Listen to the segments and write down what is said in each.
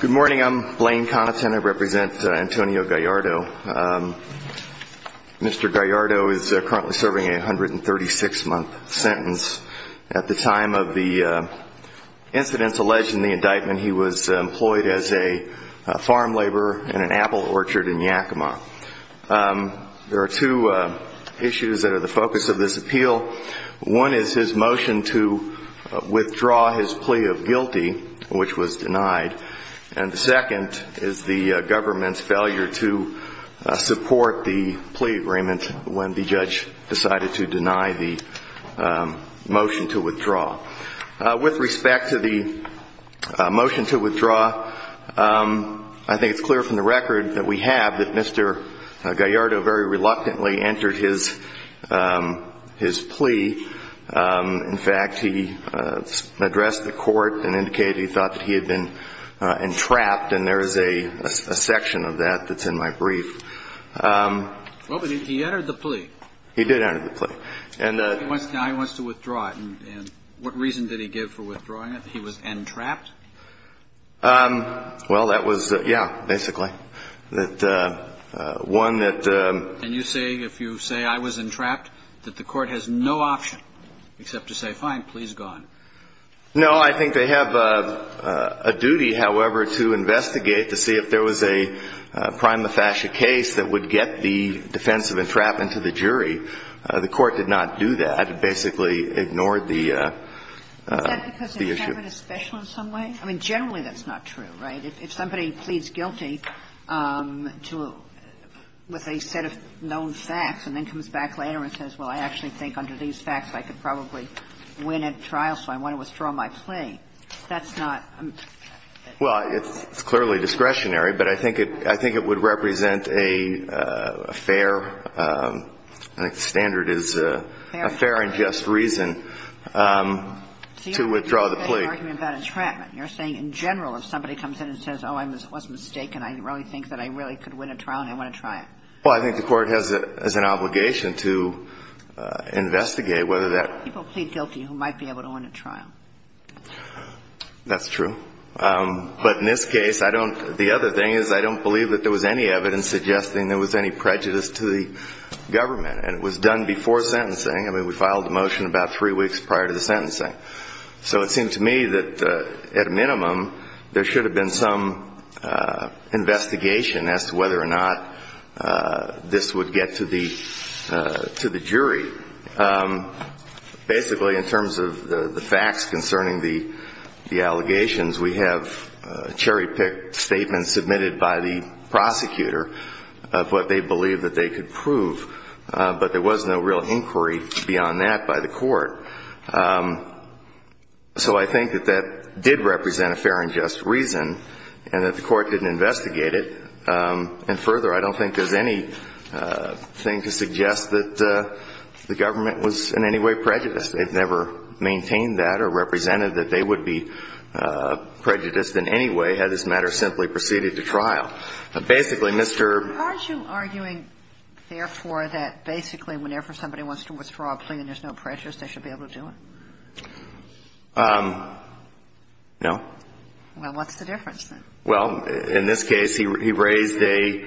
Good morning, I'm Blaine Connaughton, I represent Antonio Gallardo. Mr. Gallardo is currently serving a 136 month sentence at the time of the incidents alleged in the indictment and he was employed as a farm laborer in an apple orchard in Yakima. There are two issues that are the focus of this appeal, one is his motion to withdraw his plea of guilty which was denied and the second is the government's failure to support the plea agreement when the judge decided to deny the motion to withdraw. With respect to the motion to withdraw, I think it's clear from the record that we have that Mr. Gallardo very reluctantly entered his plea. In fact, he addressed the court and indicated he thought that he had been entrapped and there is a section of that that's in my brief. He did enter the plea. He wants to withdraw it and what reason did he give for withdrawing it, that he was entrapped? Well, that was, yeah, basically. And you say, if you say I was entrapped, that the court has no option except to say, fine, please go on. No, I think they have a duty, however, to investigate to see if there was a prima facie case that would get the defense of entrapment to the jury. The court did not do that. It basically ignored the issue. Is that because the government is special in some way? I mean, generally that's not true, right? If somebody pleads guilty to a set of known facts and then comes back later and says, well, I actually think under these facts I could probably win a trial, so I want to withdraw my plea, that's not the case. Well, it's clearly discretionary, but I think it would represent a fair, I think the standard is a fair and just reason to withdraw the plea. So you're arguing about entrapment. You're saying in general if somebody comes in and says, oh, I was mistaken, I really think that I really could win a trial and I want to try it. Well, I think the court has an obligation to investigate whether that. But there are people who plead guilty who might be able to win a trial. That's true. But in this case, I don't, the other thing is I don't believe that there was any evidence suggesting there was any prejudice to the government. And it was done before sentencing. I mean, we filed a motion about three weeks prior to the sentencing. So it seemed to me that at a minimum there should have been some investigation as to whether or not this would get to the jury. Basically, in terms of the facts concerning the allegations, we have cherry-picked statements submitted by the prosecutor of what they believed that they could prove. But there was no real inquiry beyond that by the court. So I think that that did represent a fair and reasonable argument. And further, I don't think there's anything to suggest that the government was in any way prejudiced. They've never maintained that or represented that they would be prejudiced in any way had this matter simply proceeded to trial. Basically, Mr. ---- Are you arguing, therefore, that basically whenever somebody wants to withdraw a plea and there's no prejudice, they should be able to do it? No. Well, what's the difference, then? Well, in this case, he raised a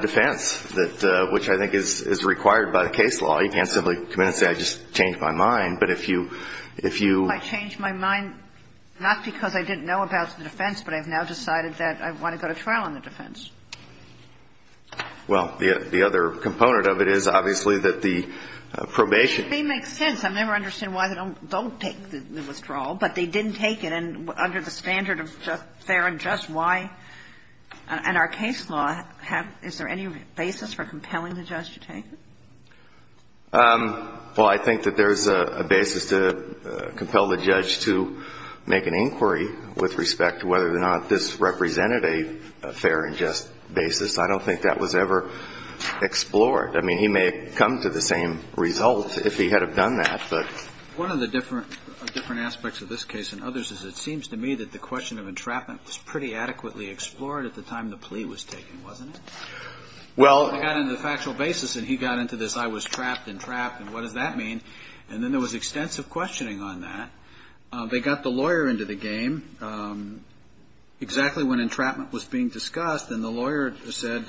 defense, which I think is required by the case law. You can't simply come in and say, I just changed my mind. But if you ---- I changed my mind not because I didn't know about the defense, but I've now decided that I want to go to trial on the defense. Well, the other component of it is, obviously, that the probation ---- It makes sense. I never understand why they don't take the withdrawal, but they didn't take it. And under the standard of fair and just, why? And our case law, is there any basis for compelling the judge to take it? Well, I think that there's a basis to compel the judge to make an inquiry with respect to whether or not this represented a fair and just basis. I don't think that was ever explored. I mean, he may have come to the same result if he had have done that, but ---- One of the different aspects of this case and others is, it seems to me that the question of entrapment was pretty adequately explored at the time the plea was taken, wasn't it? Well ---- He got into the factual basis, and he got into this, I was trapped and trapped, and what does that mean? And then there was extensive questioning on that. They got the lawyer into the game exactly when entrapment was being discussed, and the lawyer said,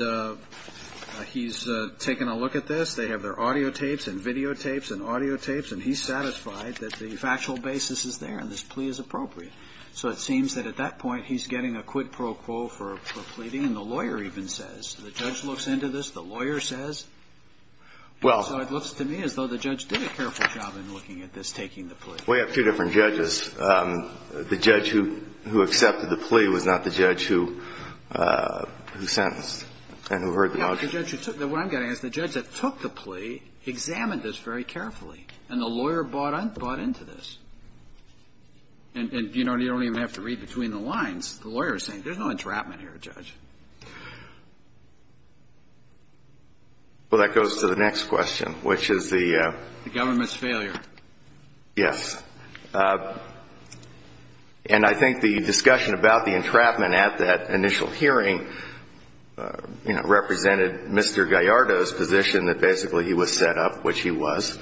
he's taken a look at this. They have their audio tapes and video tapes, and he's satisfied that the factual basis is there and this plea is appropriate. So it seems that at that point, he's getting a quid pro quo for pleading, and the lawyer even says, the judge looks into this, the lawyer says. Well ---- So it looks to me as though the judge did a careful job in looking at this, taking the plea. We have two different judges. The judge who accepted the plea was not the judge who sentenced and who heard the argument. But the judge who took the ---- what I'm getting at is the judge that took the plea examined this very carefully, and the lawyer bought into this. And, you know, you don't even have to read between the lines. The lawyer is saying, there's no entrapment here, Judge. Well, that goes to the next question, which is the ---- The government's failure. Yes. And I think the discussion about the entrapment at that initial hearing, you know, represented Mr. Gallardo's position that basically he was set up, which he was.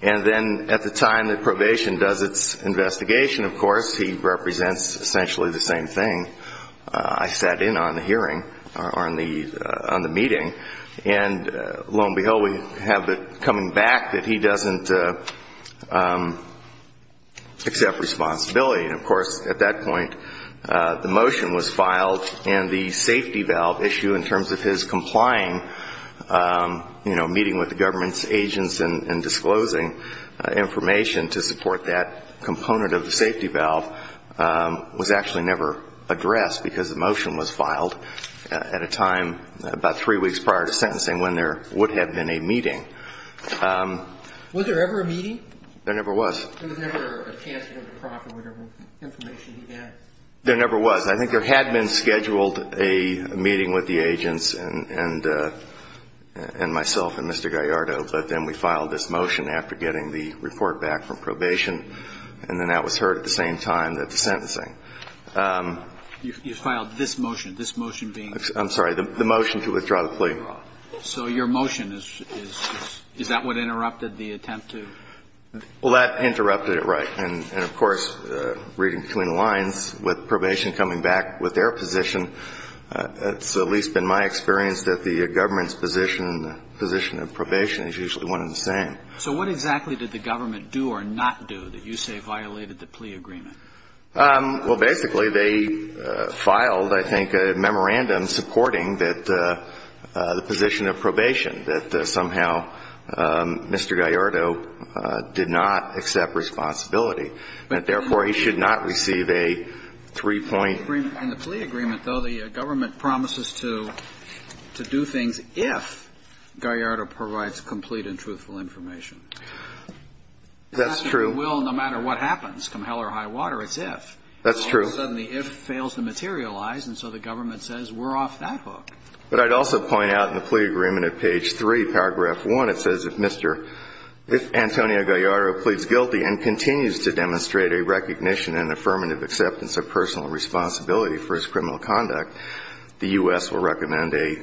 And then at the time that probation does its investigation, of course, he represents essentially the same thing. I sat in on the hearing, or on the meeting, and lo and behold, we have the coming back that he doesn't accept responsibility. And, of course, at that point, the motion was filed, and the safety valve issue in terms of his complying, you know, meeting with the government's agents and disclosing information to support that component of the safety valve was actually never addressed, because the motion was filed at a time about three weeks prior to sentencing when there would have been a meeting. Was there ever a meeting? There never was. There never was. I think there had been scheduled a meeting with the agents and myself and Mr. Gallardo, but then we filed this motion after getting the report back from probation, and then that was heard at the same time that the sentencing. You filed this motion, this motion being ---- I'm sorry, the motion to withdraw the plea. So your motion is ---- is that what interrupted the attempt to ---- Well, that interrupted it, right. And, of course, reading between the lines, with probation coming back with their position, it's at least been my experience that the government's position, position of probation is usually one and the same. So what exactly did the government do or not do that you say violated the plea agreement? Well, basically, they filed, I think, a memorandum supporting that the position of probation, that somehow Mr. Gallardo did not accept responsibility, and, therefore, he should not receive a three-point ---- In the plea agreement, though, the government promises to do things if Gallardo provides complete and truthful information. That's true. It will no matter what happens. Come hell or high water, it's if. That's true. All of a sudden, the if fails to materialize, and so the government says we're off that hook. But I'd also point out in the plea agreement at page 3, paragraph 1, it says if Mr. ---- if Antonio Gallardo pleads guilty and continues to demonstrate a recognition and affirmative acceptance of personal responsibility for his criminal conduct, the U.S. will recommend a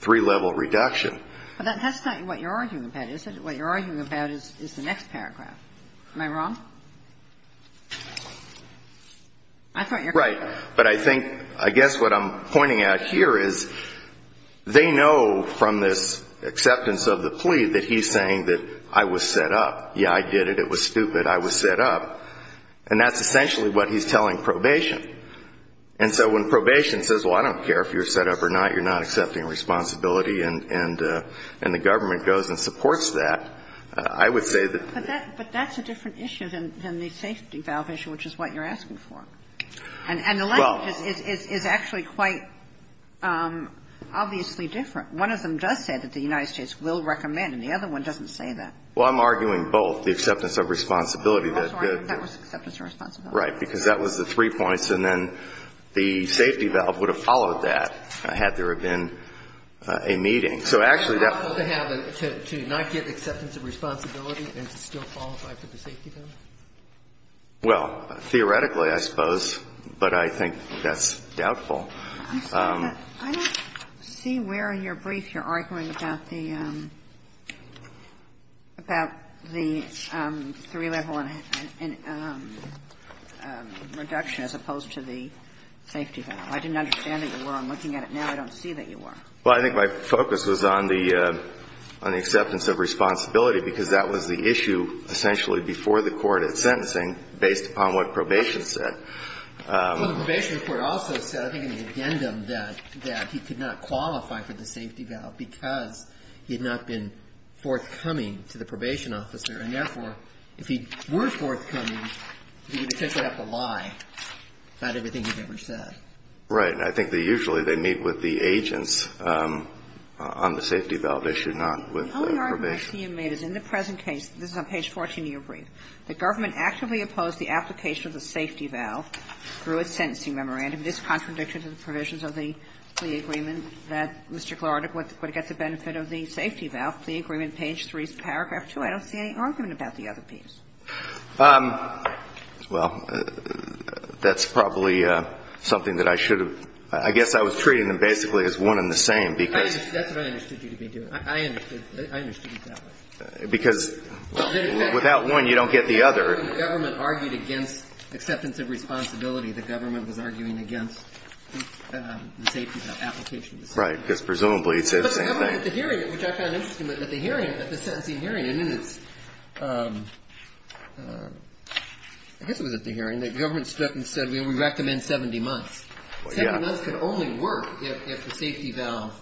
three-level reduction. But that's not what you're arguing about, is it? What you're arguing about is the next paragraph. Am I wrong? I thought you were ---- Right. But I think ---- I guess what I'm pointing out here is they know from this acceptance of the plea that he's saying that I was set up. Yeah, I did it. It was stupid. I was set up. And that's essentially what he's telling probation. And so when probation says, well, I don't care if you're set up or not, you're not accepting responsibility, and the government goes and supports that, I would say that ---- But that's a different issue than the safety valve issue, which is what you're asking for. And the language is actually quite obviously different. One of them does say that the United States will recommend, and the other one doesn't say that. Well, I'm arguing both, the acceptance of responsibility that the ---- That was acceptance of responsibility. Right. Because that was the three points, and then the safety valve would have followed that had there been a meeting. So actually that ---- To not get acceptance of responsibility and to still qualify for the safety valve? Well, theoretically, I suppose. But I think that's doubtful. I'm sorry. I don't see where in your brief you're arguing about the ---- about the three-level reduction as opposed to the safety valve. I didn't understand that you were. I'm looking at it now. I don't see that you were. Well, I think my focus was on the acceptance of responsibility, because that was the three-level reduction that was required at sentencing based upon what probation said. Well, the probation report also said, I think in the addendum that he could not qualify for the safety valve because he had not been forthcoming to the probation officer. And therefore, if he were forthcoming, he would have potentially had to lie about everything he'd ever said. Right. I think that usually they meet with the agents on the safety valve issue, not with probation. The only argument I see you made is in the present case, this is on page 14 of your brief, the government actively opposed the application of the safety valve through its sentencing memorandum. It is a contradiction to the provisions of the plea agreement that Mr. Clark would get the benefit of the safety valve. The agreement, page 3, paragraph 2, I don't see any argument about the other piece. Well, that's probably something that I should have ---- I guess I was treating them basically as one and the same because ---- That's what I understood you to be doing. I understood it that way. Because without one, you don't get the other. The government argued against acceptance of responsibility. The government was arguing against the safety valve application. Right. Because presumably it said the same thing. But the government at the hearing, which I found interesting, at the hearing, at the sentencing hearing, and in its ---- I guess it was at the hearing, the government stood up and said, we recommend 70 months. Yeah. 70 months could only work if the safety valve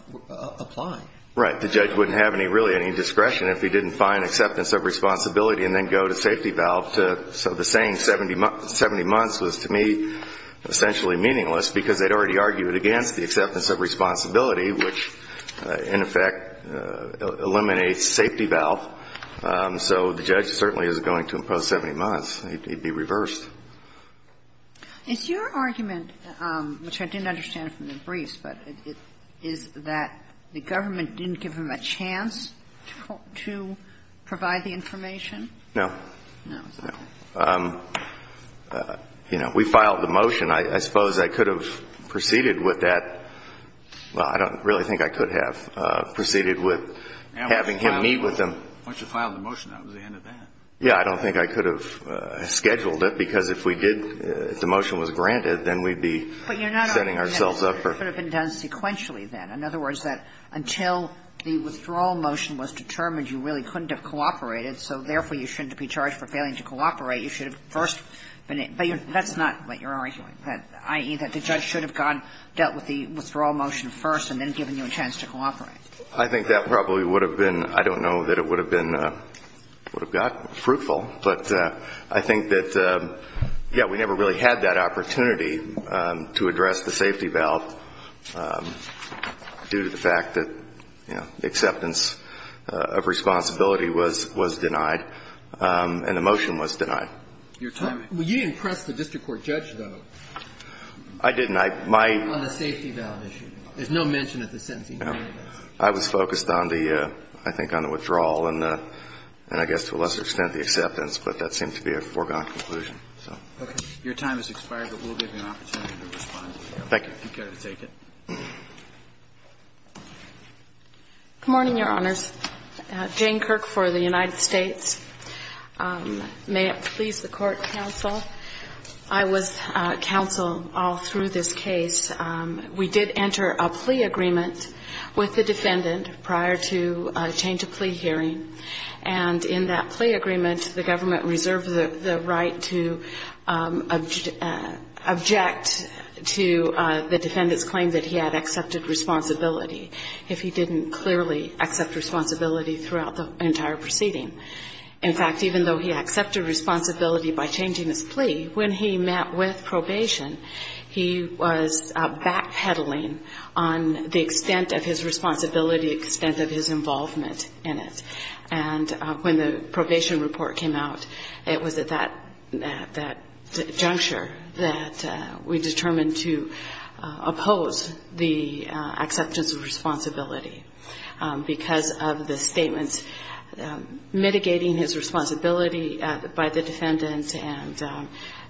applied. Right. The judge wouldn't have any, really, any discretion if he didn't find acceptance of responsibility and then go to safety valve. So the saying 70 months was, to me, essentially meaningless because they'd already argued against the acceptance of responsibility, which, in effect, eliminates safety valve. So the judge certainly isn't going to impose 70 months. He'd be reversed. It's your argument, which I didn't understand from the briefs, but it is that the government didn't give him a chance to provide the information? No. No. We filed the motion. I suppose I could have proceeded with that. Well, I don't really think I could have proceeded with having him meet with them. Once you filed the motion, that was the end of that. Yeah. I don't think I could have scheduled it, because if we did, if the motion was granted, then we'd be setting ourselves up for ---- But you're not arguing that it could have been done sequentially then. In other words, that until the withdrawal motion was determined, you really couldn't have cooperated, so therefore, you shouldn't be charged for failing to cooperate. You should have first been ---- But that's not what you're arguing, that, i.e., that the judge should have gone, dealt with the withdrawal motion first and then given you a chance to cooperate. I think that probably would have been ---- I don't know that it would have been ---- would have got fruitful. But I think that, yeah, we never really had that opportunity to address the safety valve due to the fact that, you know, acceptance of responsibility was denied and the motion was denied. Your timing. You impressed the district court judge, though. I didn't. On the safety valve issue. There's no mention of the sentencing. I was focused on the, I think, on the withdrawal and I guess to a lesser extent the acceptance, but that seemed to be a foregone conclusion. Okay. Your time has expired, but we'll give you an opportunity to respond. Thank you. If you care to take it. Good morning, Your Honors. Jane Kirk for the United States. May it please the Court, counsel. I was counsel all through this case. We did enter a plea agreement with the defendant prior to a change of plea hearing, and in that plea agreement, the government reserved the right to object to the defendant's claim that he had accepted responsibility if he didn't clearly accept responsibility throughout the entire proceeding. In fact, even though he accepted responsibility by changing his plea, when he met with probation, he was backpedaling on the extent of his responsibility, extent of his responsibility, and when the probation report came out, it was at that juncture that we determined to oppose the acceptance of responsibility because of the statements mitigating his responsibility by the defendant, and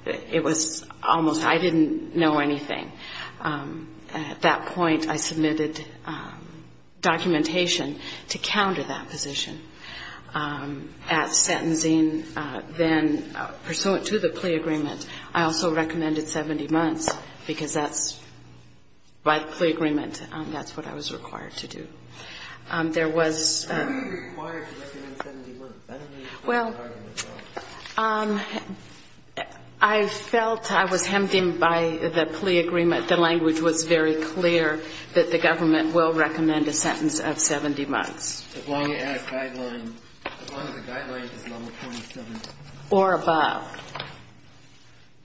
it was almost, I didn't know anything. At that point, I submitted documentation to counter that position. At sentencing, then, pursuant to the plea agreement, I also recommended 70 months, because that's, by the plea agreement, that's what I was required to do. There was... Why did you recommend 70 months? Well, I felt I was hemmed in by the plea agreement. The language was very clear that the government will recommend a sentence of 70 months. As long as the guideline is number 27. Or above.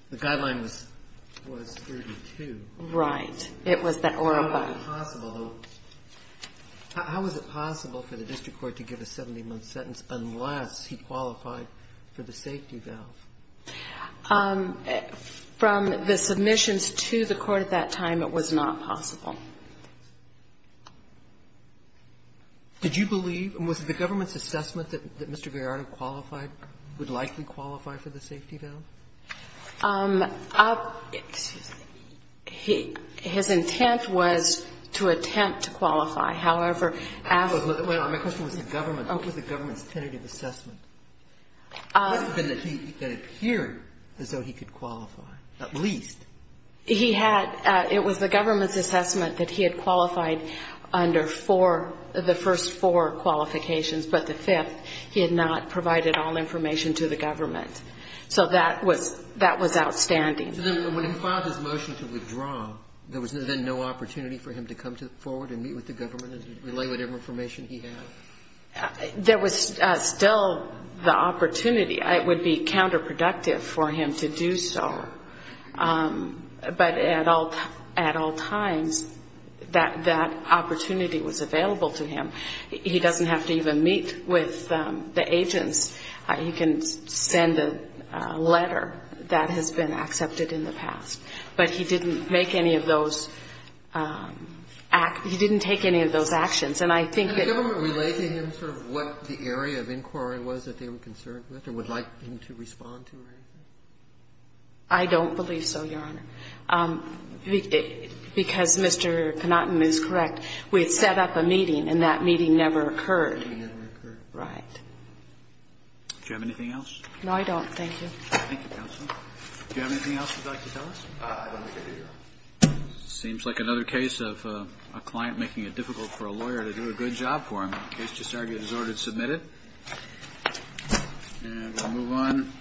The guideline was 32. Right. It was that or above. How is it possible, though, how is it possible for the district court to give a 70-month sentence unless he qualified for the safety valve? From the submissions to the court at that time, it was not possible. Did you believe, and was the government's assessment that Mr. Gallardo qualified, would likely qualify for the safety valve? Excuse me. His intent was to attempt to qualify. However, as... My question was the government. What was the government's tentative assessment? It must have been that he, that it appeared as though he could qualify, at least. He had, it was the government's assessment that he had qualified under four, the first four qualifications, but the fifth, he had not provided all information to the government. So that was outstanding. So then when he filed his motion to withdraw, there was then no opportunity for him to come forward and meet with the government and relay whatever information he had? There was still the opportunity. It would be counterproductive for him to do so. But at all times, that opportunity was available to him. He doesn't have to even meet with the agents. He can send a letter that has been accepted in the past. But he didn't make any of those, he didn't take any of those actions. And I think that... Could the government relate to him sort of what the area of inquiry was that they were concerned with or would like him to respond to or anything? I don't believe so, Your Honor. Because Mr. Panatton is correct. We had set up a meeting, and that meeting never occurred. It never occurred. Right. Do you have anything else? No, I don't. Thank you. Thank you, counsel. Do you have anything else you'd like to tell us? I don't think I do, Your Honor. Seems like another case of a client making it difficult for a lawyer to do a good job for him. The case just argued is ordered submitted. And we'll move on.